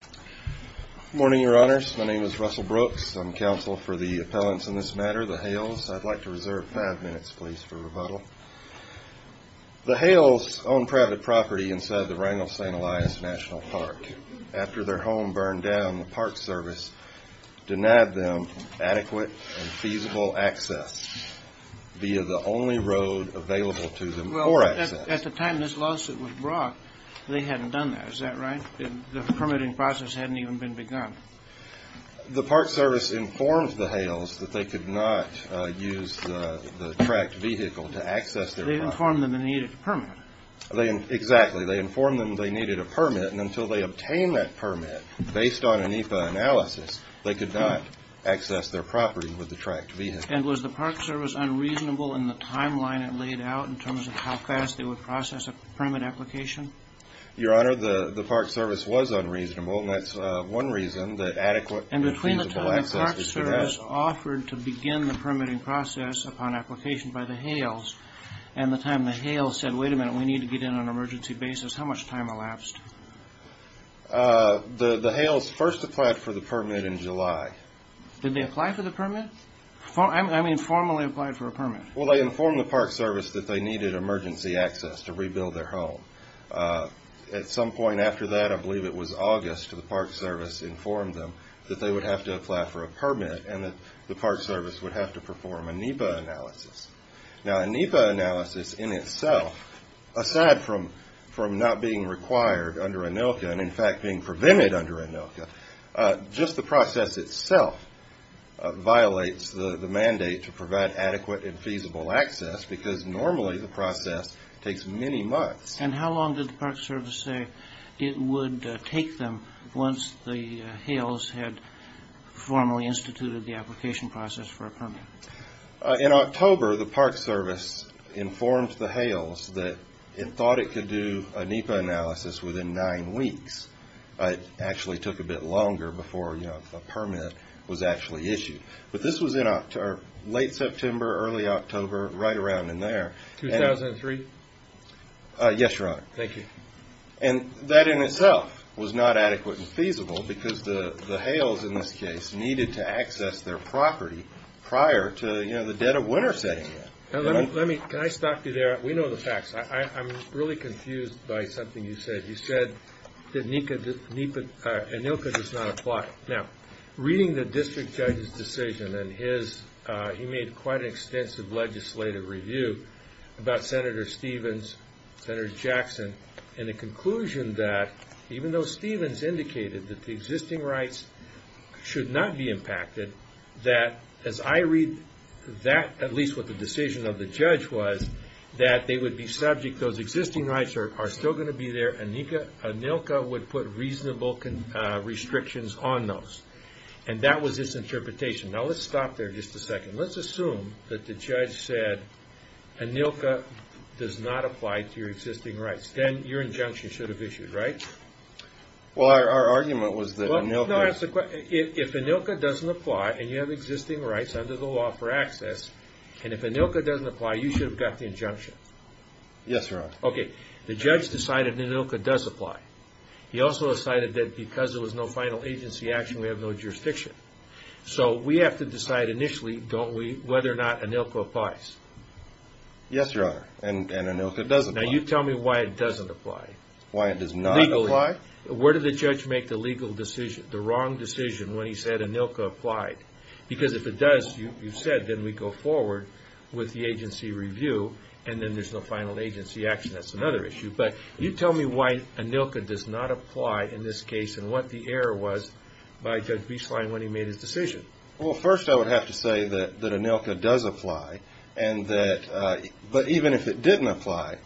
Good morning, Your Honors. My name is Russell Brooks. I'm counsel for the appellants in this matter, the Hales. I'd like to reserve five minutes, please, for rebuttal. The Hales own private property inside the Wrangell-St. Elias National Park. After their home burned down, the Park Service denied them adequate and feasible access via the only road available to them for access. Well, at the time this lawsuit was brought, they hadn't done that. Is that right? The permitting process hadn't even been begun. The Park Service informed the Hales that they could not use the tracked vehicle to access their property. They informed them they needed a permit. Exactly. They informed them they needed a permit, and until they obtained that permit based on an EPA analysis, they could not access their property with the tracked vehicle. And was the Park Service unreasonable in the timeline it laid out in terms of how fast they would process a permit application? Your Honor, the Park Service was unreasonable, and that's one reason that adequate and feasible access was denied. And between the time the Park Service offered to begin the permitting process upon application by the Hales, and the time the Hales said, wait a minute, we need to get in on an emergency basis, how much time elapsed? The Hales first applied for the permit in July. Did they apply for the permit? I mean, formally applied for a permit. Well, they informed the Park Service that they needed emergency access to rebuild their home. At some point after that, I believe it was August, the Park Service informed them that they would have to apply for a permit and that the Park Service would have to perform a NEPA analysis. Now, a NEPA analysis in itself, aside from not being required under ANILCA and, in fact, being prevented under ANILCA, just the process itself violates the mandate to provide adequate and feasible access because normally the process takes many months. And how long did the Park Service say it would take them once the Hales had formally instituted the application process for a permit? In October, the Park Service informed the Hales that it thought it could do a NEPA analysis within nine weeks. It actually took a bit longer before a permit was actually issued. But this was in late September, early October, right around in there. 2003? Yes, Your Honor. Thank you. And that in itself was not adequate and feasible because the Hales, in this case, needed to access their property prior to the dead of winter setting in. Can I stop you there? We know the facts. I'm really confused by something you said. You said that ANILCA does not apply. Now, reading the district judge's decision, and he made quite an extensive legislative review about Senator Stevens, Senator Jackson, and the conclusion that even though Stevens indicated that the existing rights should not be impacted, that as I read that, at least what the decision of the judge was, that they would be subject, those existing rights are still going to be there. ANILCA would put reasonable restrictions on those. And that was his interpretation. Now, let's stop there just a second. Let's assume that the judge said ANILCA does not apply to your existing rights. Then your injunction should have issued, right? Well, our argument was that ANILCA... No, that's the question. If ANILCA doesn't apply and you have existing rights under the law for access, and if ANILCA doesn't apply, you should have got the injunction. Yes, Your Honor. Okay. The judge decided ANILCA does apply. He also decided that because there was no final agency action, we have no jurisdiction. So we have to decide initially, don't we, whether or not ANILCA applies. Yes, Your Honor. And ANILCA does apply. Now, you tell me why it doesn't apply. Why it does not apply? Where did the judge make the legal decision, the wrong decision, when he said ANILCA applied? Because if it does, you said, then we go forward with the agency review, and then there's no final agency action. That's another issue. But you tell me why ANILCA does not apply in this case and what the error was by Judge Bieslein when he made his decision. Well, first I would have to say that ANILCA does apply. But even if it didn't apply,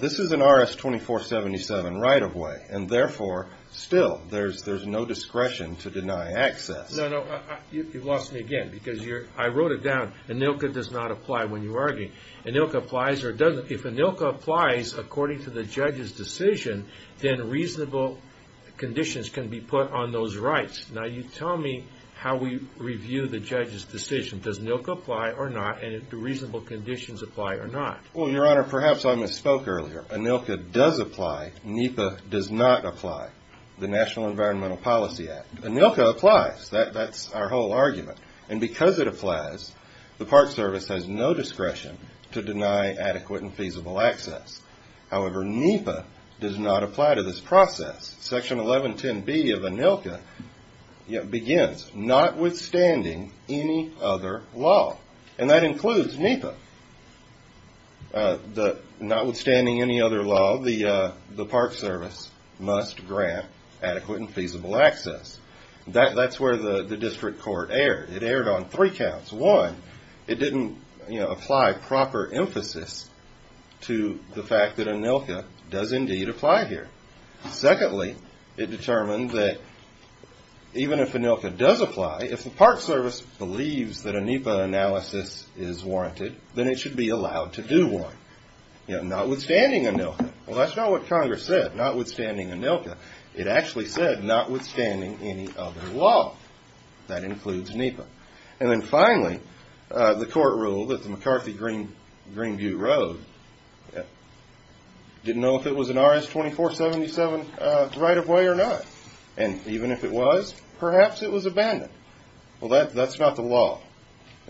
this is an RS-2477 right-of-way, and therefore, still, there's no discretion to deny access. No, no. You've lost me again because I wrote it down. ANILCA does not apply when you argue. If ANILCA applies according to the judge's decision, then reasonable conditions can be put on those rights. Well, Your Honor, perhaps I misspoke earlier. ANILCA does apply. NEPA does not apply. The National Environmental Policy Act. ANILCA applies. That's our whole argument. And because it applies, the Park Service has no discretion to deny adequate and feasible access. However, NEPA does not apply to this process. Section 1110B of ANILCA begins, notwithstanding any other law. And that includes NEPA. Notwithstanding any other law, the Park Service must grant adequate and feasible access. That's where the district court erred. It erred on three counts. One, it didn't apply proper emphasis to the fact that ANILCA does indeed apply here. Secondly, it determined that even if ANILCA does apply, if the Park Service believes that a NEPA analysis is warranted, then it should be allowed to do one, notwithstanding ANILCA. Well, that's not what Congress said, notwithstanding ANILCA. It actually said notwithstanding any other law. That includes NEPA. And then finally, the court ruled that the McCarthy-Greenview Road didn't know if it was an RS-2477 right-of-way or not. And even if it was, perhaps it was abandoned. Well, that's not the law.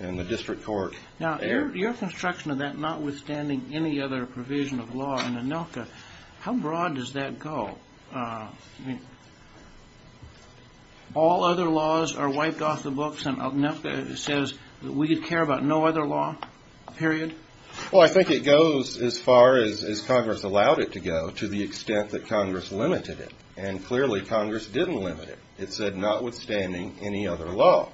And the district court erred. Now, your construction of that notwithstanding any other provision of law in ANILCA, how broad does that go? All other laws are wiped off the books and ANILCA says that we care about no other law, period? Well, I think it goes as far as Congress allowed it to go to the extent that Congress limited it. And clearly, Congress didn't limit it. It said notwithstanding any other law.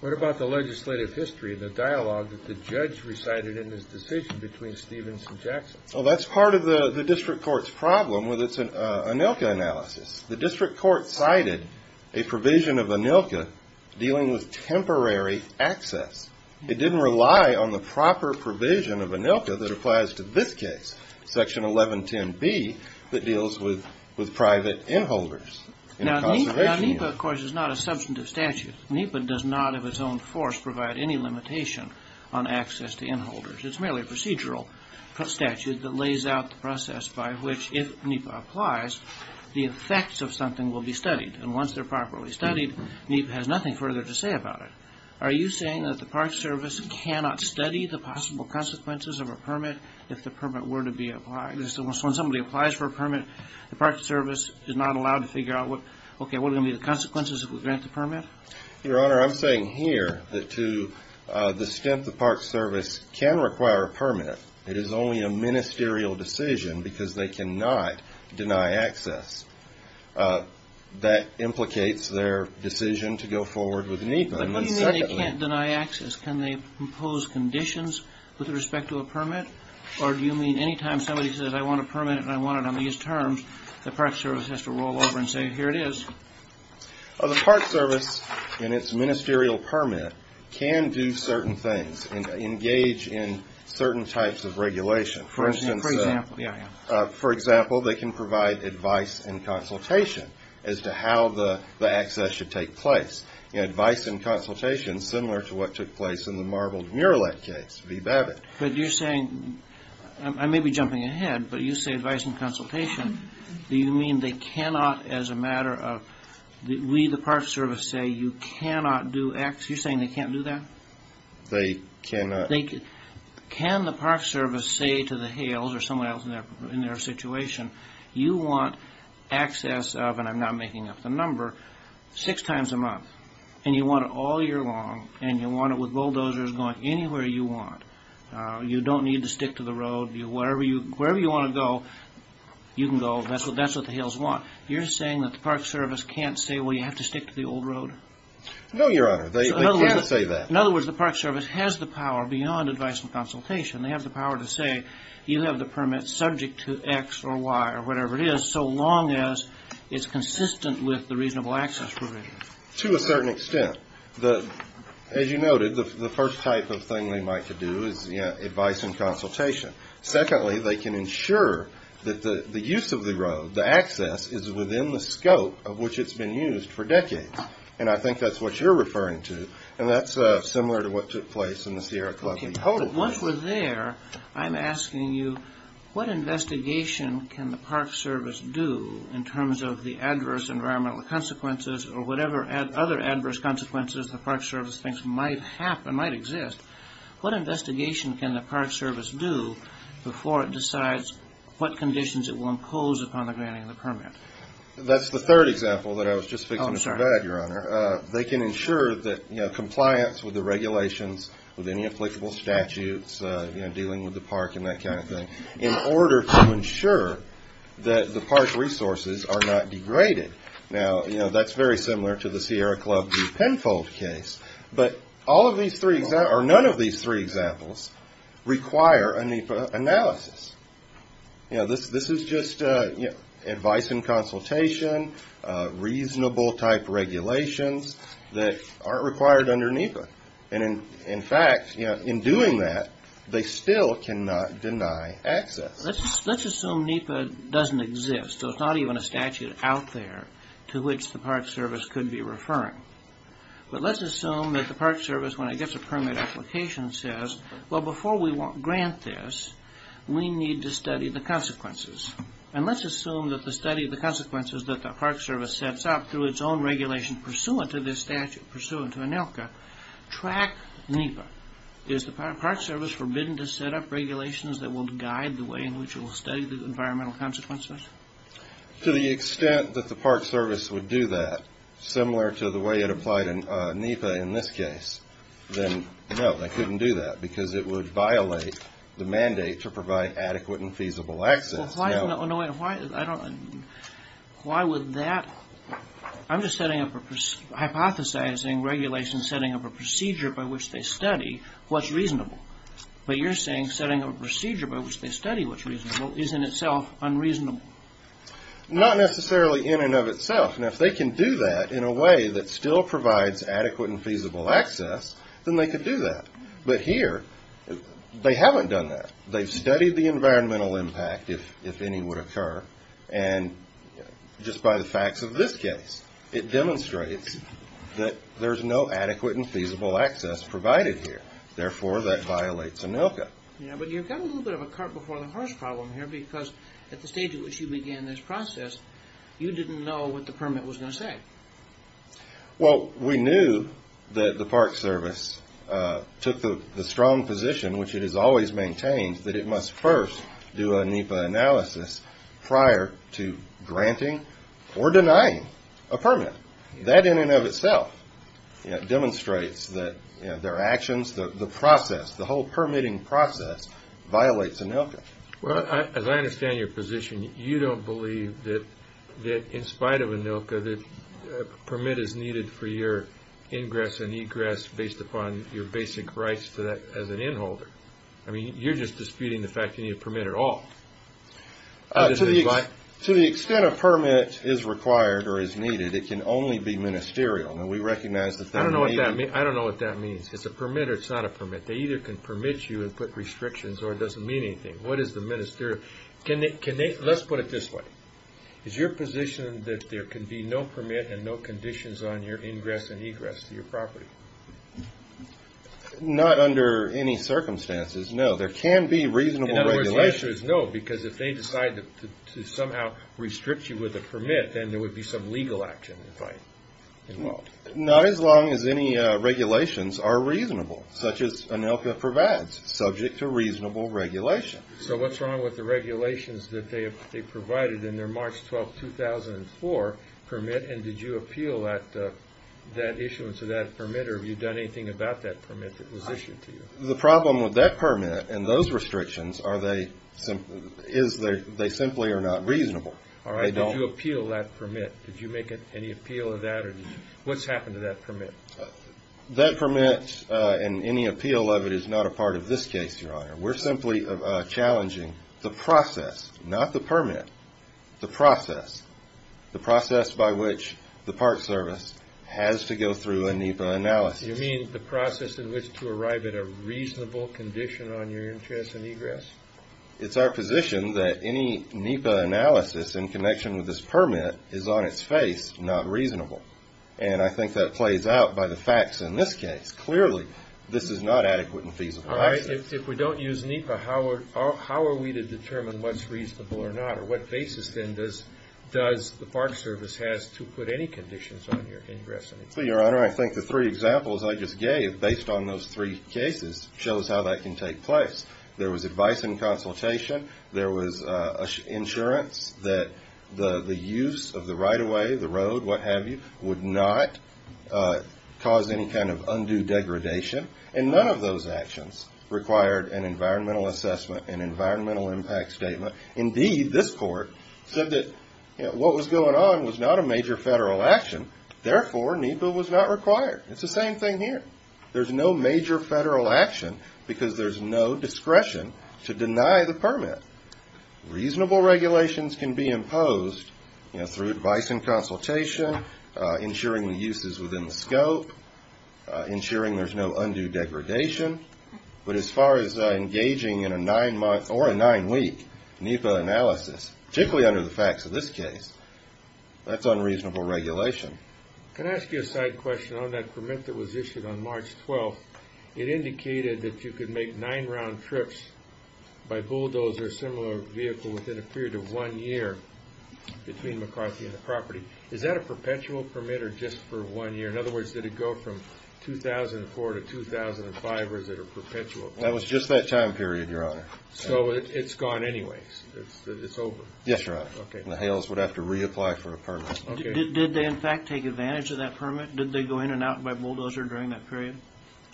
What about the legislative history, the dialogue that the judge recited in his decision between Stevens and Jackson? Well, that's part of the district court's problem with its ANILCA analysis. The district court cited a provision of ANILCA dealing with temporary access. It didn't rely on the proper provision of ANILCA that applies to this case, Section 1110B, that deals with private in-holders. Now, NEPA, of course, is not a substantive statute. NEPA does not of its own force provide any limitation on access to in-holders. It's merely a procedural statute that lays out the process by which, if NEPA applies, the effects of something will be studied. And once they're properly studied, NEPA has nothing further to say about it. Are you saying that the Park Service cannot study the possible consequences of a permit if the permit were to be applied? So when somebody applies for a permit, the Park Service is not allowed to figure out, okay, what are going to be the consequences if we grant the permit? Your Honor, I'm saying here that to the extent the Park Service can require a permit, it is only a ministerial decision because they cannot deny access. That implicates their decision to go forward with NEPA. But what do you mean they can't deny access? Can they impose conditions with respect to a permit? Or do you mean anytime somebody says, I want a permit and I want it on these terms, the Park Service has to roll over and say, here it is? The Park Service, in its ministerial permit, can do certain things and engage in certain types of regulation. For instance, for example, they can provide advice and consultation as to how the access should take place. Advice and consultation, similar to what took place in the Marbled Murillette case, v. Babbitt. But you're saying, I may be jumping ahead, but you say advice and consultation. Do you mean they cannot, as a matter of, we the Park Service say you cannot do X? You're saying they can't do that? They cannot. Can the Park Service say to the Hales or someone else in their situation, you want access of, and I'm not making up the number, six times a month, and you want it all year long and you want it with bulldozers going anywhere you want. You don't need to stick to the road. Wherever you want to go, you can go. That's what the Hales want. You're saying that the Park Service can't say, well, you have to stick to the old road? No, Your Honor. They can't say that. In other words, the Park Service has the power beyond advice and consultation. They have the power to say, you have the permit subject to X or Y or whatever it is, so long as it's consistent with the reasonable access provision. To a certain extent. As you noted, the first type of thing they might do is advice and consultation. Secondly, they can ensure that the use of the road, the access, is within the scope of which it's been used for decades. And I think that's what you're referring to. And that's similar to what took place in the Sierra Club. Once we're there, I'm asking you, what investigation can the Park Service do in terms of the adverse environmental consequences or whatever other adverse consequences the Park Service thinks might happen, might exist? What investigation can the Park Service do before it decides what conditions it will impose upon the granting of the permit? That's the third example that I was just fixing to provide, Your Honor. They can ensure that compliance with the regulations, with any applicable statutes, dealing with the park and that kind of thing, in order to ensure that the park resources are not degraded. Now, that's very similar to the Sierra Club v. Penfold case. But none of these three examples require a NEPA analysis. This is just advice and consultation, reasonable type regulations that aren't required under NEPA. And in fact, in doing that, they still cannot deny access. Let's assume NEPA doesn't exist. There's not even a statute out there to which the Park Service could be referring. But let's assume that the Park Service, when it gets a permit application, says, well, before we grant this, we need to study the consequences. And let's assume that the study of the consequences that the Park Service sets up through its own regulation pursuant to this statute, pursuant to ANELCA, track NEPA. Is the Park Service forbidden to set up regulations that will guide the way in which it will study the environmental consequences? To the extent that the Park Service would do that, similar to the way it applied in NEPA in this case, then no, they couldn't do that because it would violate the mandate to provide adequate and feasible access. Why would that? I'm just hypothesizing regulations setting up a procedure by which they study what's reasonable. But you're saying setting up a procedure by which they study what's reasonable is in itself unreasonable. Not necessarily in and of itself. And if they can do that in a way that still provides adequate and feasible access, then they could do that. But here, they haven't done that. They've studied the environmental impact, if any would occur, and just by the facts of this case, it demonstrates that there's no adequate and feasible access provided here. Therefore, that violates ANELCA. Yeah, but you've got a little bit of a cart before the horse problem here because at the stage at which you began this process, you didn't know what the permit was going to say. Well, we knew that the Park Service took the strong position, which it has always maintained, that it must first do a NEPA analysis prior to granting or denying a permit. That in and of itself demonstrates that their actions, the process, the whole permitting process violates ANELCA. Well, as I understand your position, you don't believe that in spite of ANELCA, that a permit is needed for your ingress and egress based upon your basic rights as an inholder. I mean, you're just disputing the fact that you need a permit at all. To the extent a permit is required or is needed, it can only be ministerial. Now, we recognize that that may be— I don't know what that means. It's a permit or it's not a permit. They either can permit you and put restrictions or it doesn't mean anything. What is the ministerial? Let's put it this way. Is your position that there can be no permit and no conditions on your ingress and egress to your property? Not under any circumstances, no. There can be reasonable regulations. In other words, the answer is no because if they decide to somehow restrict you with a permit, then there would be some legal action, in fact. Not as long as any regulations are reasonable, such as ANELCA provides, subject to reasonable regulation. So what's wrong with the regulations that they provided in their March 12, 2004 permit, and did you appeal that issuance of that permit, or have you done anything about that permit that was issued to you? The problem with that permit and those restrictions is they simply are not reasonable. All right. Did you appeal that permit? Did you make any appeal of that? What's happened to that permit? That permit and any appeal of it is not a part of this case, Your Honor. We're simply challenging the process, not the permit, the process, the process by which the Park Service has to go through a NEPA analysis. You mean the process in which to arrive at a reasonable condition on your ingress and egress? It's our position that any NEPA analysis in connection with this permit is on its face not reasonable, and I think that plays out by the facts in this case. Clearly, this is not adequate and feasible action. All right. If we don't use NEPA, how are we to determine what's reasonable or not, or what basis then does the Park Service has to put any conditions on your ingress and egress? Well, Your Honor, I think the three examples I just gave, based on those three cases, shows how that can take place. There was advice and consultation. There was insurance that the use of the right-of-way, the road, what have you, would not cause any kind of undue degradation, and none of those actions required an environmental assessment, an environmental impact statement. Indeed, this court said that what was going on was not a major federal action. Therefore, NEPA was not required. It's the same thing here. There's no major federal action because there's no discretion to deny the permit. Reasonable regulations can be imposed through advice and consultation, ensuring the use is within the scope, ensuring there's no undue degradation. But as far as engaging in a nine-month or a nine-week NEPA analysis, particularly under the facts of this case, that's unreasonable regulation. Can I ask you a side question? On that permit that was issued on March 12th, it indicated that you could make nine round trips by bulldozer, a similar vehicle, within a period of one year between McCarthy and the property. Is that a perpetual permit or just for one year? In other words, did it go from 2004 to 2005, or is it a perpetual permit? That was just that time period, Your Honor. So it's gone anyways? It's over? Yes, Your Honor. The Hales would have to reapply for a permit. Did they, in fact, take advantage of that permit? Did they go in and out by bulldozer during that period?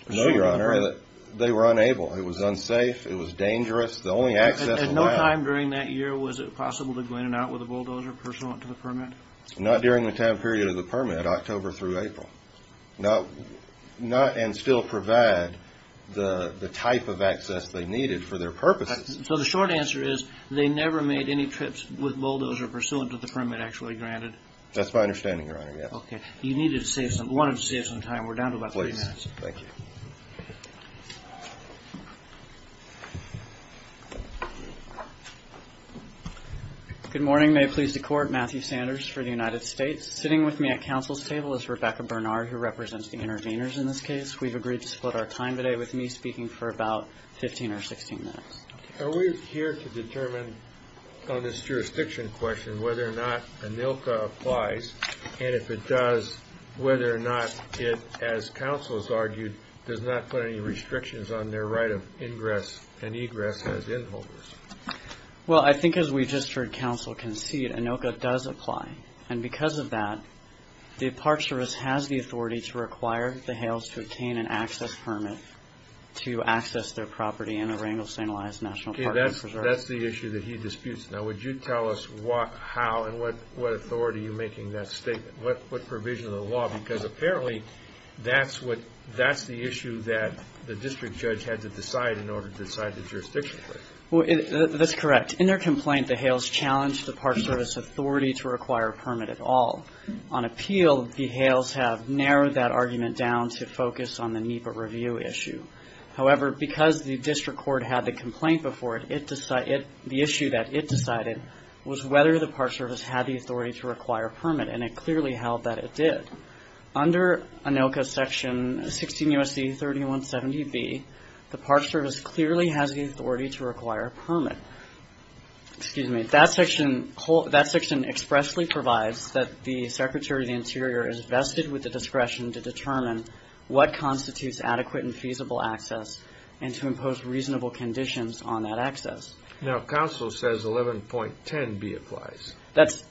No, Your Honor. They were unable. It was unsafe. It was dangerous. The only access allowed— At no time during that year was it possible to go in and out with a bulldozer pursuant to the permit? Not during the time period of the permit, October through April. And still provide the type of access they needed for their purposes. So the short answer is they never made any trips with bulldozer pursuant to the permit actually granted? That's my understanding, Your Honor, yes. Okay. You needed to save some—wanted to save some time. We're down to about three minutes. Please. Thank you. Good morning. May it please the Court. Matthew Sanders for the United States. Sitting with me at counsel's table is Rebecca Bernard, who represents the interveners in this case. We've agreed to split our time today with me speaking for about 15 or 16 minutes. Are we here to determine on this jurisdiction question whether or not ANILCA applies? And if it does, whether or not it, as counsel has argued, does not put any restrictions on their right of ingress and egress as inholders? Well, I think as we just heard counsel concede, ANILCA does apply. And because of that, the Apartheid Service has the authority to require the Hales to obtain an access permit to access their property in a Rangel St. Elias National Park. Okay. That's the issue that he disputes. Now, would you tell us how and what authority you're making that statement? What provision of the law? Because apparently that's the issue that the district judge had to decide in order to decide the jurisdiction. That's correct. In their complaint, the Hales challenged the Park Service authority to require a permit at all. On appeal, the Hales have narrowed that argument down to focus on the NEPA review issue. However, because the district court had the complaint before it, the issue that it decided was whether the Park Service had the authority to require a permit. And it clearly held that it did. Under ANILCA section 16 U.S.C. 3170B, the Park Service clearly has the authority to require a permit. Excuse me. That section expressly provides that the Secretary of the Interior is vested with the discretion to determine what constitutes adequate and feasible access and to impose reasonable conditions on that access. Now, counsel says 11.10B applies. That's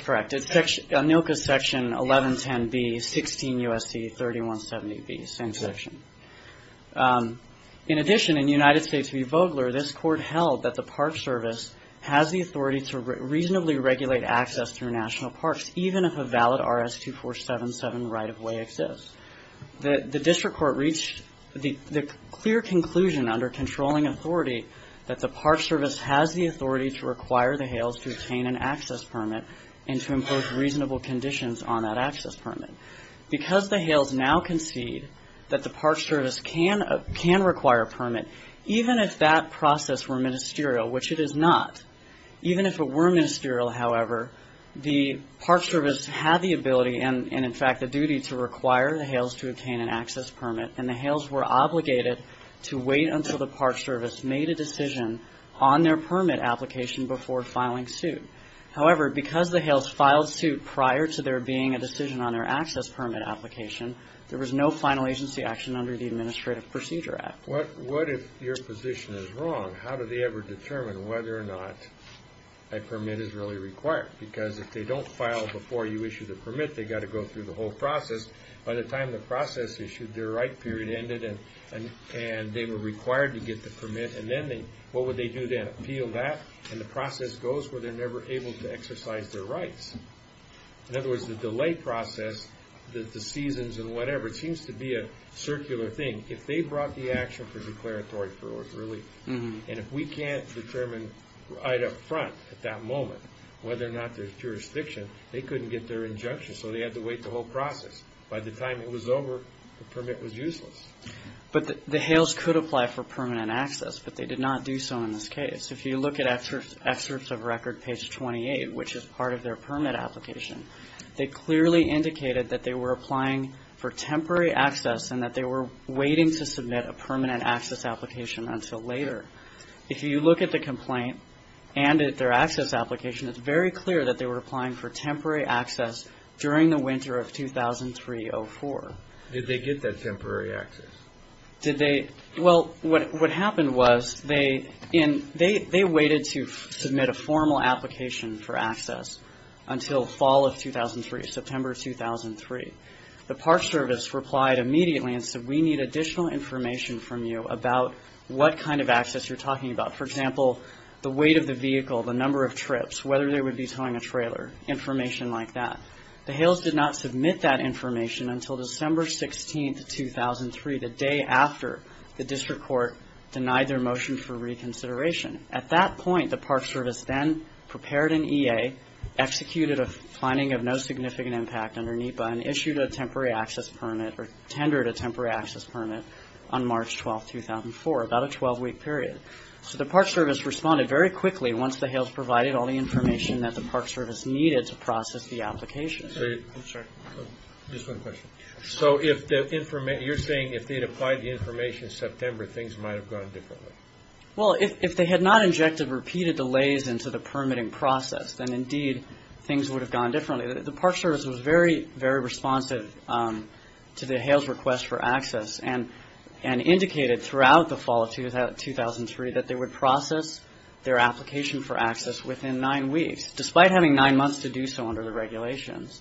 correct. ANILCA section 1110B, 16 U.S.C. 3170B. Same section. In addition, in United States v. Vogler, this court held that the Park Service has the authority to reasonably regulate access through national parks, even if a valid RS-2477 right-of-way exists. The district court reached the clear conclusion under controlling authority that the Park Service has the authority to require the Hales to obtain an access permit and to impose reasonable conditions on that access permit. Because the Hales now concede that the Park Service can require a permit, even if that process were ministerial, which it is not, even if it were ministerial, however, the Park Service had the ability and, in fact, the duty to require the Hales to obtain an access permit, and the Hales were obligated to wait until the Park Service made a decision on their permit application before filing suit. However, because the Hales filed suit prior to there being a decision on their access permit application, there was no final agency action under the Administrative Procedure Act. What if your position is wrong? How do they ever determine whether or not a permit is really required? Because if they don't file before you issue the permit, they've got to go through the whole process. By the time the process is issued, their right period ended, and they were required to get the permit, and then what would they do then? Appeal that, and the process goes where they're never able to exercise their rights. In other words, the delay process, the seasons and whatever, seems to be a circular thing. If they brought the action for declaratory parole, really, and if we can't determine right up front at that moment whether or not there's jurisdiction, they couldn't get their injunction, so they had to wait the whole process. By the time it was over, the permit was useless. But the HALES could apply for permanent access, but they did not do so in this case. If you look at excerpts of record page 28, which is part of their permit application, they clearly indicated that they were applying for temporary access and that they were waiting to submit a permanent access application until later. If you look at the complaint and at their access application, it's very clear that they were applying for temporary access during the winter of 2003-04. Did they get that temporary access? Did they? Well, what happened was they waited to submit a formal application for access until fall of 2003, September 2003. The Park Service replied immediately and said, we need additional information from you about what kind of access you're talking about. For example, the weight of the vehicle, the number of trips, whether they would be towing a trailer, information like that. The HALES did not submit that information until December 16, 2003, the day after the district court denied their motion for reconsideration. At that point, the Park Service then prepared an EA, executed a finding of no significant impact under NEPA, and issued a temporary access permit or tendered a temporary access permit on March 12, 2004, about a 12-week period. So the Park Service responded very quickly once the HALES provided all the information that the Park Service needed to process the application. I'm sorry. Just one question. So you're saying if they had applied the information in September, things might have gone differently? Well, if they had not injected repeated delays into the permitting process, then indeed things would have gone differently. The Park Service was very, very responsive to the HALES request for access and indicated throughout the fall of 2003 that they would process their application for access within nine weeks, despite having nine months to do so under the regulations,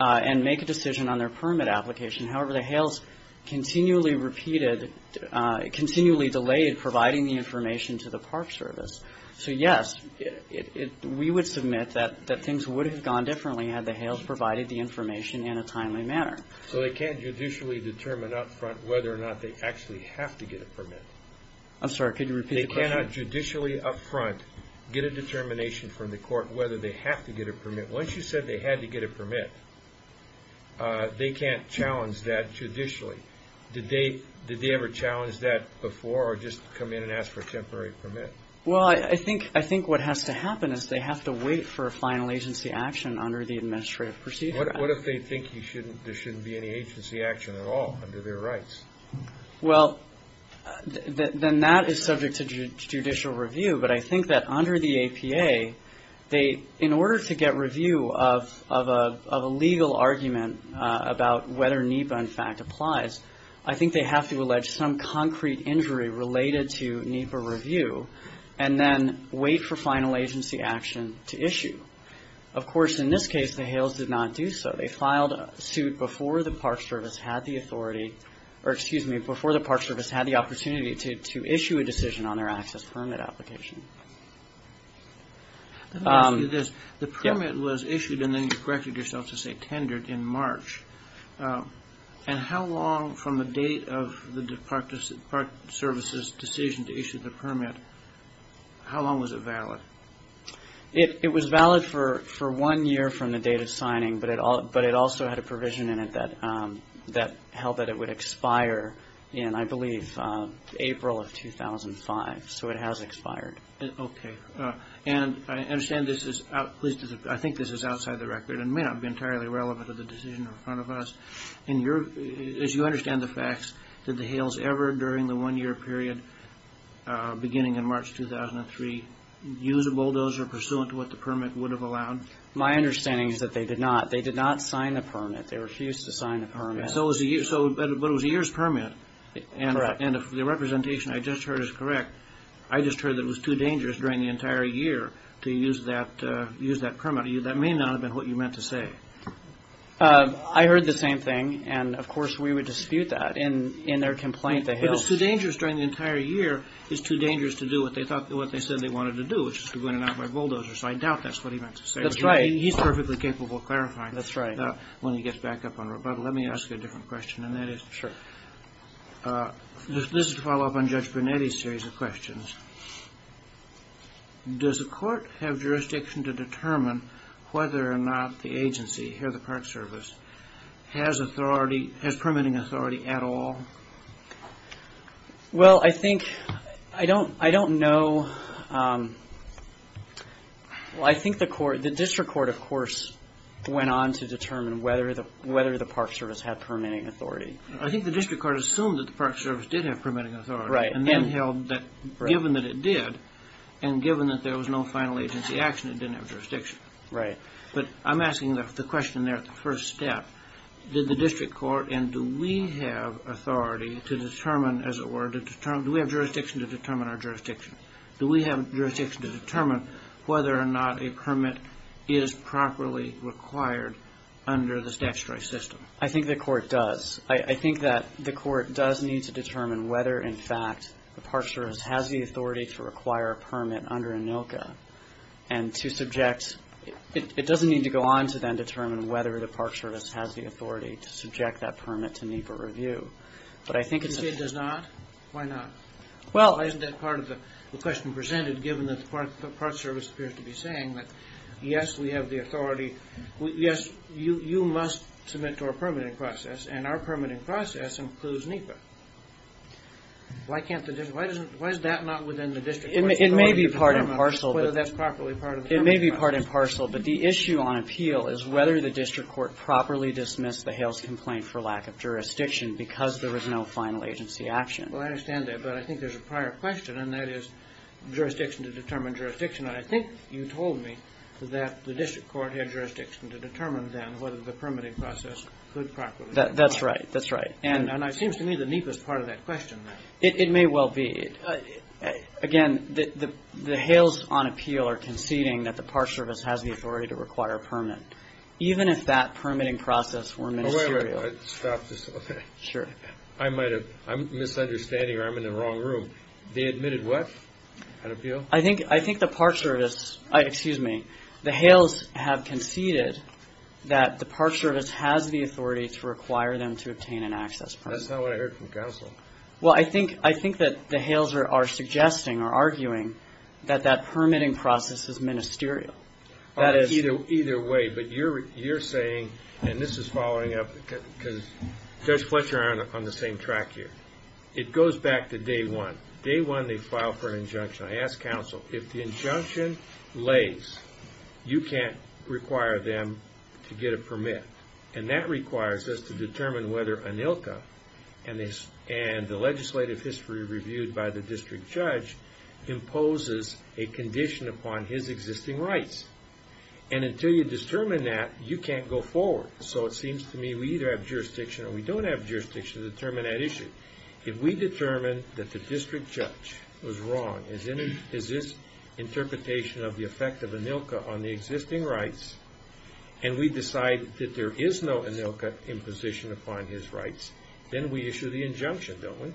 and make a decision on their permit application. However, the HALES continually repeated, continually delayed providing the information to the Park Service. So, yes, we would submit that things would have gone differently had the HALES provided the information in a timely manner. So they can't judicially determine up front whether or not they actually have to get a permit? I'm sorry. Could you repeat the question? They cannot judicially up front get a determination from the court whether they have to get a permit. Once you said they had to get a permit, they can't challenge that judicially. Did they ever challenge that before, or just come in and ask for a temporary permit? Well, I think what has to happen is they have to wait for a final agency action under the Administrative Procedure Act. What if they think there shouldn't be any agency action at all under their rights? Well, then that is subject to judicial review. But I think that under the APA, in order to get review of a legal argument about whether NEPA, in fact, applies, I think they have to allege some concrete injury related to NEPA review and then wait for final agency action to issue. Of course, in this case, the HALES did not do so. They filed a suit before the Park Service had the opportunity to issue a decision on their access permit application. Let me ask you this. The permit was issued, and then you corrected yourself to say tendered in March. And how long from the date of the Park Service's decision to issue the permit, how long was it valid? It was valid for one year from the date of signing, but it also had a provision in it that held that it would expire in, I believe, April of 2005. So it has expired. Okay. And I understand this is, at least I think this is outside the record and may not be entirely relevant to the decision in front of us. As you understand the facts, did the HALES ever, during the one-year period beginning in March 2003, use a bulldozer pursuant to what the permit would have allowed? My understanding is that they did not. They did not sign the permit. They refused to sign the permit. But it was a year's permit. Correct. And if the representation I just heard is correct, I just heard that it was too dangerous during the entire year to use that permit. That may not have been what you meant to say. I heard the same thing, and, of course, we would dispute that. In their complaint, the HALES – But it's too dangerous during the entire year, it's too dangerous to do what they said they wanted to do, which is to go in and out by bulldozer. So I doubt that's what he meant to say. That's right. He's perfectly capable of clarifying that when he gets back up on the road. But let me ask you a different question, and that is – Sure. This is to follow up on Judge Brunetti's series of questions. Does the court have jurisdiction to determine whether or not the agency, here the Park Service, has permitting authority at all? Well, I think – I don't know. Well, I think the district court, of course, went on to determine whether the Park Service had permitting authority. I think the district court assumed that the Park Service did have permitting authority. Right. And then held that, given that it did, and given that there was no final agency action, it didn't have jurisdiction. Right. But I'm asking the question there at the first step. Did the district court – and do we have authority to determine, as it were – do we have jurisdiction to determine our jurisdiction? Do we have jurisdiction to determine whether or not a permit is properly required under the statutory system? I think the court does. I think that the court does need to determine whether, in fact, the Park Service has the authority to require a permit under ANILCA. And to subject – it doesn't need to go on to then determine whether the Park Service has the authority to subject that permit to NEPA review. But I think it's – You say it does not? Why not? Well – Why isn't that part of the question presented, given that the Park Service appears to be saying that, yes, we have the authority, yes, you must submit to our permitting process, and our permitting process includes NEPA. Why can't the district – why is that not within the district court's authority? It may be part and parcel. Whether that's properly part of the permitting process. It may be part and parcel, but the issue on appeal is whether the district court properly dismissed the Hales complaint for lack of jurisdiction because there was no final agency action. Well, I understand that, but I think there's a prior question, and that is jurisdiction to determine jurisdiction. And I think you told me that the district court had jurisdiction to determine then whether the permitting process could properly – That's right. That's right. And it seems to me the NEPA is part of that question now. It may well be. Again, the Hales on appeal are conceding that the Park Service has the authority to require a permit, even if that permitting process were ministerial. Oh, wait, wait. Stop this. Okay. Sure. I might have – I'm misunderstanding, or I'm in the wrong room. They admitted what on appeal? I think the Park Service – excuse me. The Hales have conceded that the Park Service has the authority to require them to obtain an access permit. That's not what I heard from counsel. Well, I think that the Hales are suggesting or arguing that that permitting process is ministerial. That is – Either way. But you're saying – and this is following up because Judge Fletcher and I are on the same track here. It goes back to day one. Day one, they filed for an injunction. I asked counsel, if the injunction lays, you can't require them to get a permit. And that requires us to determine whether ANILCA and the legislative history reviewed by the district judge imposes a condition upon his existing rights. And until you determine that, you can't go forward. So it seems to me we either have jurisdiction or we don't have jurisdiction to determine that issue. If we determine that the district judge was wrong, is this interpretation of the effect of ANILCA on the existing rights, and we decide that there is no ANILCA imposition upon his rights, then we issue the injunction, don't we?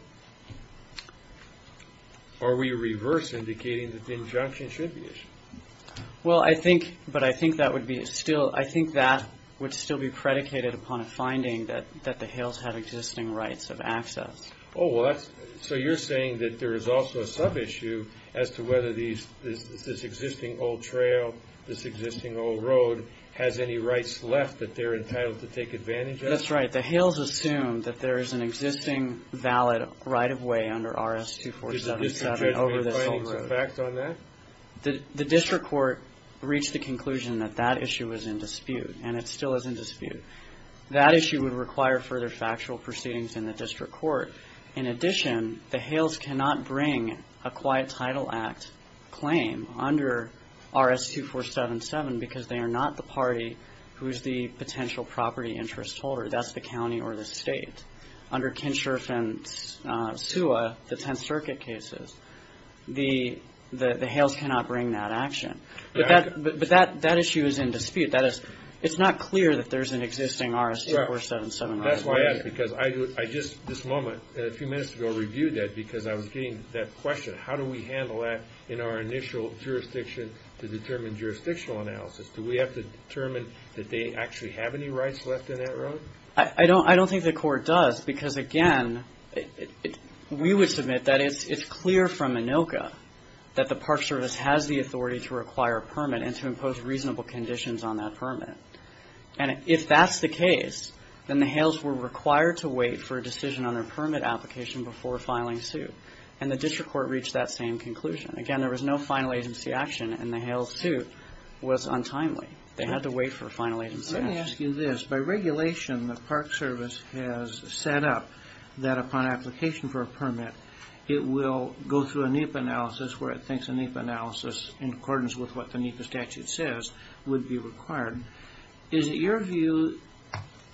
Or are we reverse indicating that the injunction should be issued? Well, I think – but I think that would be still – I think that would still be predicated upon a finding that the Hales have existing rights of access. Oh, well, that's – so you're saying that there is also a sub-issue as to whether this existing old trail, this existing old road, has any rights left that they're entitled to take advantage of? That's right. The Hales assume that there is an existing valid right-of-way under RS-2477 over this old road. Did the district judge make findings of facts on that? The district court reached the conclusion that that issue was in dispute, and it still is in dispute. That issue would require further factual proceedings in the district court. In addition, the Hales cannot bring a Quiet Title Act claim under RS-2477 because they are not the party who is the potential property interest holder. That's the county or the state. Under Kinsherff and Suha, the Tenth Circuit cases, the Hales cannot bring that action. But that issue is in dispute. That is, it's not clear that there is an existing RS-2477 right-of-way. That's why I ask because I just this moment, a few minutes ago, reviewed that because I was getting that question. How do we handle that in our initial jurisdiction to determine jurisdictional analysis? Do we have to determine that they actually have any rights left in that road? I don't think the court does because, again, we would submit that it's clear from ANILCA that the Park Service has the authority to require a permit and to impose reasonable conditions on that permit. And if that's the case, then the Hales were required to wait for a decision on their permit application before filing suit. And the district court reached that same conclusion. Again, there was no final agency action, and the Hales suit was untimely. They had to wait for a final agency action. Let me ask you this. By regulation, the Park Service has set up that upon application for a permit, it will go through a NEPA analysis where it thinks a NEPA analysis, in accordance with what the NEPA statute says, would be required. Is it your view,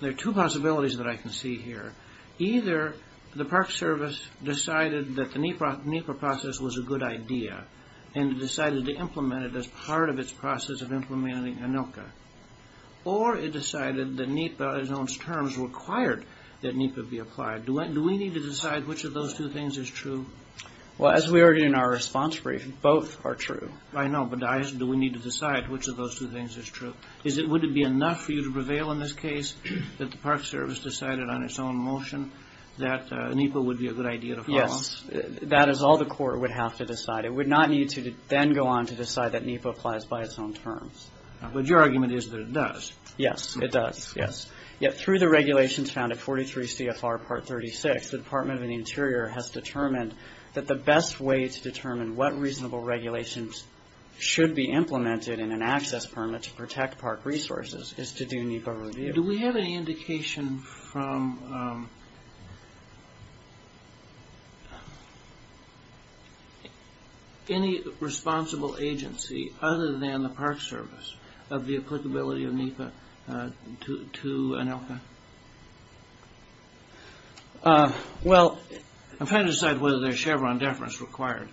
there are two possibilities that I can see here. Either the Park Service decided that the NEPA process was a good idea and decided to implement it as part of its process of implementing ANILCA, or it decided that NEPA's own terms required that NEPA be applied. Do we need to decide which of those two things is true? Well, as we heard in our response brief, both are true. I know, but do we need to decide which of those two things is true? Would it be enough for you to prevail in this case that the Park Service decided on its own motion that NEPA would be a good idea to follow? Yes. That is all the court would have to decide. It would not need to then go on to decide that NEPA applies by its own terms. But your argument is that it does. Yes, it does, yes. Yet through the regulations found at 43 CFR Part 36, the Department of the Interior has determined that the best way to determine what reasonable regulations should be implemented in an access permit to protect park resources is to do NEPA review. Do we have any indication from any responsible agency other than the Park Service of the applicability of NEPA to ANILCA? Well, I'm trying to decide whether there's Chevron deference required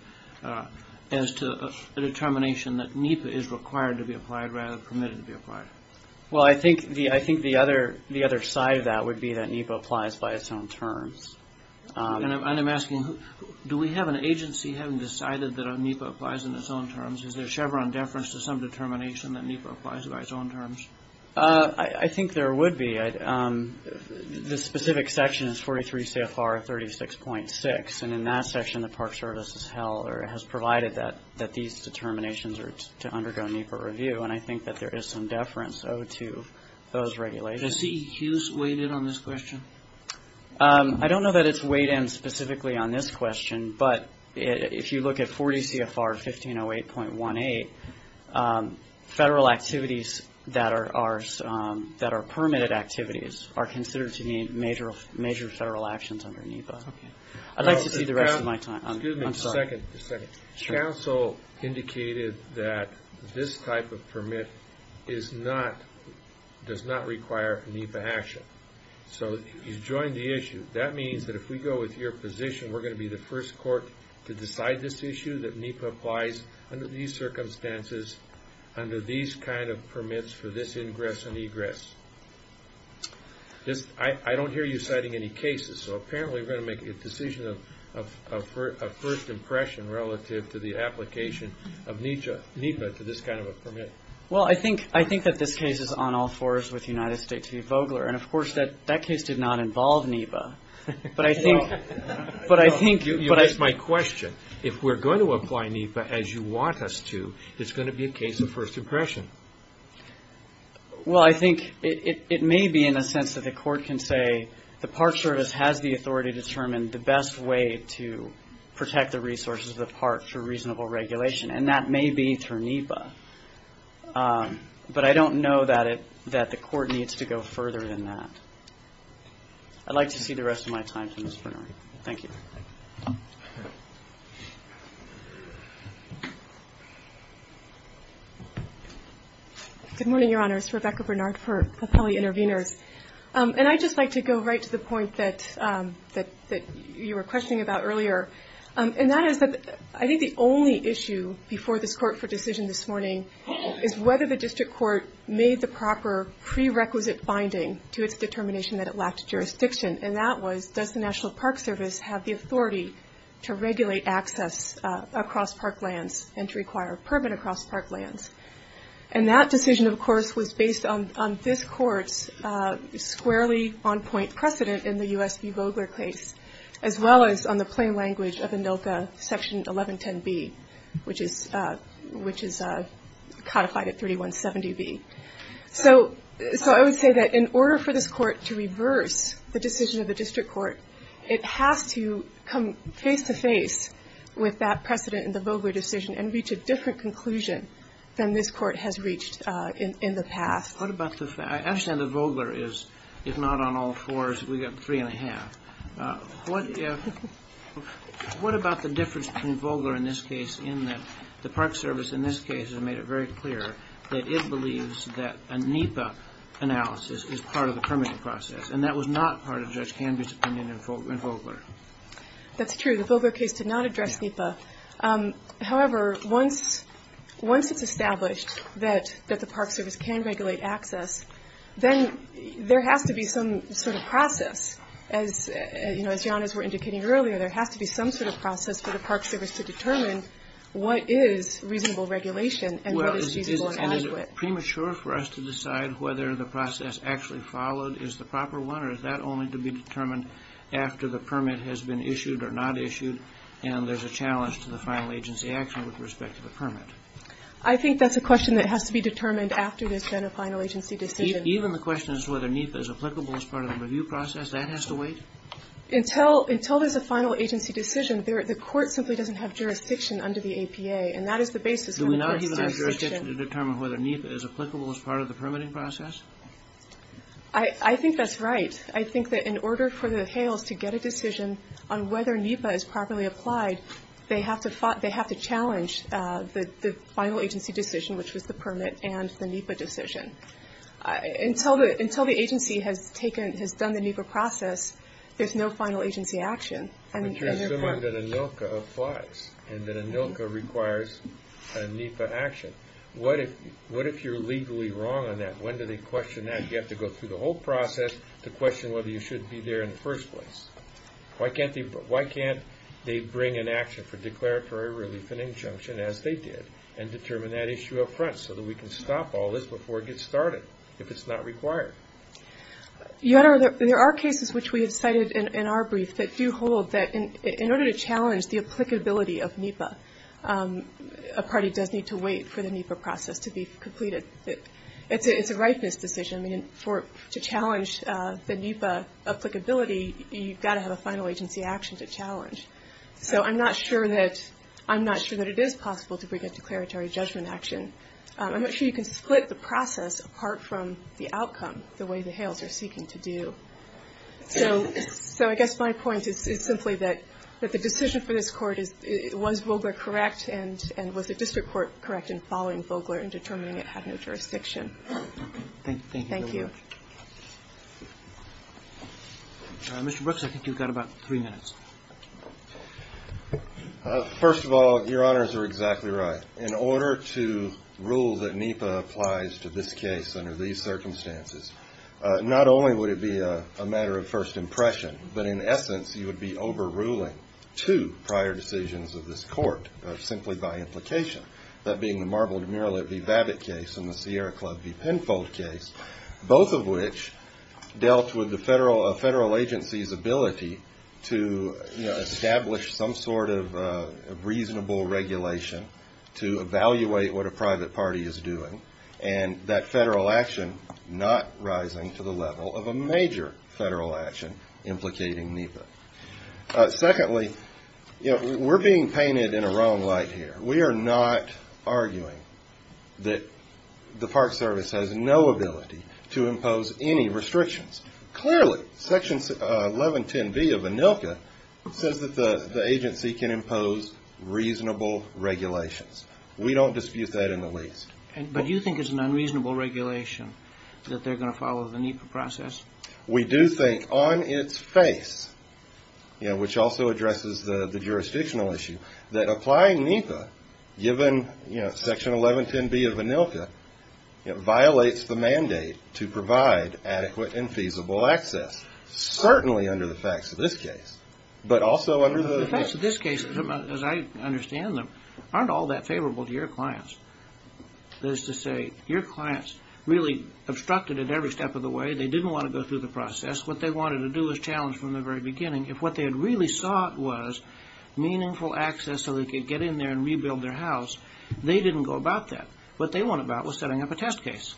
as to the determination that NEPA is required to be applied rather than permitted to be applied. Well, I think the other side of that would be that NEPA applies by its own terms. And I'm asking, do we have an agency having decided that NEPA applies in its own terms? Is there Chevron deference to some determination that NEPA applies by its own terms? I think there would be. The specific section is 43 CFR 36.6. And in that section, the Park Service has held or has provided that these determinations are to undergo NEPA review. And I think that there is some deference owed to those regulations. Is CEQs weighted on this question? I don't know that it's weighed in specifically on this question. But if you look at 40 CFR 1508.18, federal activities that are permitted activities are considered to be major federal actions under NEPA. I'd like to see the rest of my time. Excuse me a second. The council indicated that this type of permit does not require NEPA action. So you've joined the issue. That means that if we go with your position, we're going to be the first court to decide this issue, that NEPA applies under these circumstances, under these kind of permits for this ingress and egress. I don't hear you citing any cases. So apparently we're going to make a decision of first impression relative to the application of NEPA to this kind of a permit. Well, I think that this case is on all fours with United States v. Vogler. And, of course, that case did not involve NEPA. But I think you asked my question. If we're going to apply NEPA as you want us to, it's going to be a case of first impression. Well, I think it may be in a sense that the court can say the Park Service has the authority to determine the best way to protect the resources of the park for reasonable regulation. And that may be through NEPA. But I don't know that the court needs to go further than that. I'd like to see the rest of my time from Ms. Bernard. Thank you. Good morning, Your Honors. Rebecca Bernard for Appellee Intervenors. And I'd just like to go right to the point that you were questioning about earlier. And that is that I think the only issue before this court for decision this morning is whether the district court made the proper prerequisite binding to its determination that it lacked jurisdiction. And that was, does the National Park Service have the authority to regulate access across park lands and to require a permit across park lands? And that decision, of course, was based on this court's squarely on-point precedent in the U.S. v. Vogler case, as well as on the plain language of ANILCA Section 1110B, which is codified at 3170B. So I would say that in order for this court to reverse the decision of the district court, it has to come face-to-face with that precedent in the Vogler decision and reach a different conclusion than this court has reached in the past. What about the fact, I understand that Vogler is, if not on all fours, we've got three and a half. What if, what about the difference between Vogler in this case in that the Park Service in this case has made it very clear that it believes that a NEPA analysis is part of the permitting process and that was not part of Judge Canby's opinion in Vogler? That's true. The Vogler case did not address NEPA. However, once it's established that the Park Service can regulate access, then there has to be some sort of process. As Janice was indicating earlier, there has to be some sort of process for the Park Service to determine what is reasonable regulation and what is feasible and adequate. Well, is it premature for us to decide whether the process actually followed is the proper one or is that only to be determined after the permit has been issued or not issued and there's a challenge to the final agency action with respect to the permit? I think that's a question that has to be determined after there's been a final agency decision. Even the question as to whether NEPA is applicable as part of the review process, that has to wait? Until there's a final agency decision, the court simply doesn't have jurisdiction under the APA and that is the basis for the first jurisdiction. Do we not even have jurisdiction to determine whether NEPA is applicable as part of the permitting process? I think that's right. I think that in order for the HALES to get a decision on whether NEPA is properly applied, they have to challenge the final agency decision, which was the permit, and the NEPA decision. Until the agency has done the NEPA process, there's no final agency action. But you're assuming that ANILCA applies and that ANILCA requires a NEPA action. What if you're legally wrong on that? When do they question that? You have to go through the whole process to question whether you should be there in the first place. Why can't they bring an action for declaratory relief and injunction as they did and determine that issue up front so that we can stop all this before it gets started if it's not required? Your Honor, there are cases which we have cited in our brief that do hold that in order to challenge the applicability of NEPA, a party does need to wait for the NEPA process to be completed. It's a ripeness decision. I mean, to challenge the NEPA applicability, you've got to have a final agency action to challenge. So I'm not sure that it is possible to bring a declaratory judgment action. I'm not sure you can split the process apart from the outcome the way the HALES are seeking to do. So I guess my point is simply that the decision for this Court was Vogler correct and was the district court correct in following Vogler and determining it had no jurisdiction. Thank you very much. Thank you. Mr. Brooks, I think you've got about three minutes. First of all, Your Honors are exactly right. In order to rule that NEPA applies to this case under these circumstances, not only would it be a matter of first impression, but in essence you would be overruling two prior decisions of this Court simply by implication, that being the marbled murrelet v. Babbitt case and the Sierra Club v. Penfold case, both of which dealt with the federal agency's ability to establish some sort of reasonable regulation to evaluate what a private party is doing, and that federal action not rising to the level of a major federal action implicating NEPA. Secondly, we're being painted in a wrong light here. We are not arguing that the Park Service has no ability to impose any restrictions. Clearly, Section 1110B of ANILCA says that the agency can impose reasonable regulations. We don't dispute that in the least. But you think it's an unreasonable regulation that they're going to follow the NEPA process? We do think on its face, which also addresses the jurisdictional issue, that applying NEPA, given Section 1110B of ANILCA, violates the mandate to provide adequate and feasible access, certainly under the facts of this case, but also under the facts of this case. As I understand them, aren't all that favorable to your clients? That is to say, your clients really obstructed it every step of the way. They didn't want to go through the process. What they wanted to do was challenge from the very beginning. If what they had really sought was meaningful access so they could get in there and rebuild their house, they didn't go about that. What they went about was setting up a test case.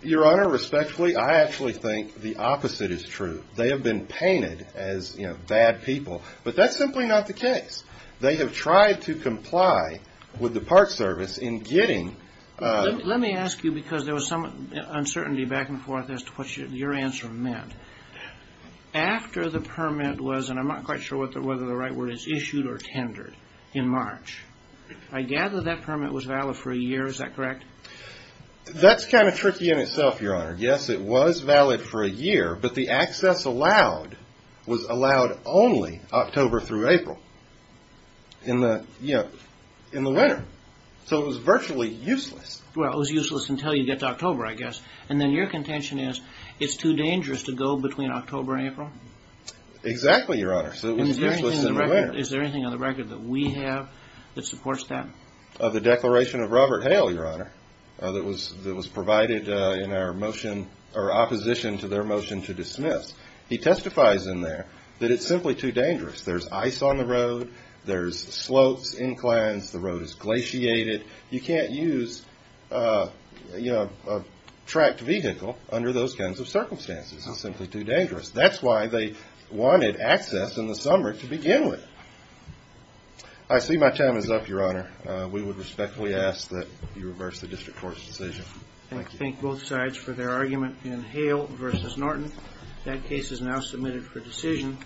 Your Honor, respectfully, I actually think the opposite is true. They have been painted as bad people. But that's simply not the case. They have tried to comply with the Park Service in getting... Let me ask you, because there was some uncertainty back and forth as to what your answer meant. After the permit was, and I'm not quite sure whether the right word is issued or tendered in March, I gather that permit was valid for a year. Is that correct? That's kind of tricky in itself, Your Honor. Yes, it was valid for a year, but the access allowed was allowed only October through April in the winter. So it was virtually useless. Well, it was useless until you get to October, I guess. And then your contention is it's too dangerous to go between October and April? Exactly, Your Honor. Is there anything on the record that we have that supports that? Of the declaration of Robert Hale, Your Honor, that was provided in our motion or opposition to their motion to dismiss, he testifies in there that it's simply too dangerous. There's ice on the road. There's slopes, inclines. The road is glaciated. You can't use a tracked vehicle under those kinds of circumstances. It's simply too dangerous. That's why they wanted access in the summer to begin with. I see my time is up, Your Honor. We would respectfully ask that you reverse the district court's decision. Thank you. I thank both sides for their argument in Hale v. Norton. That case is now submitted for decision.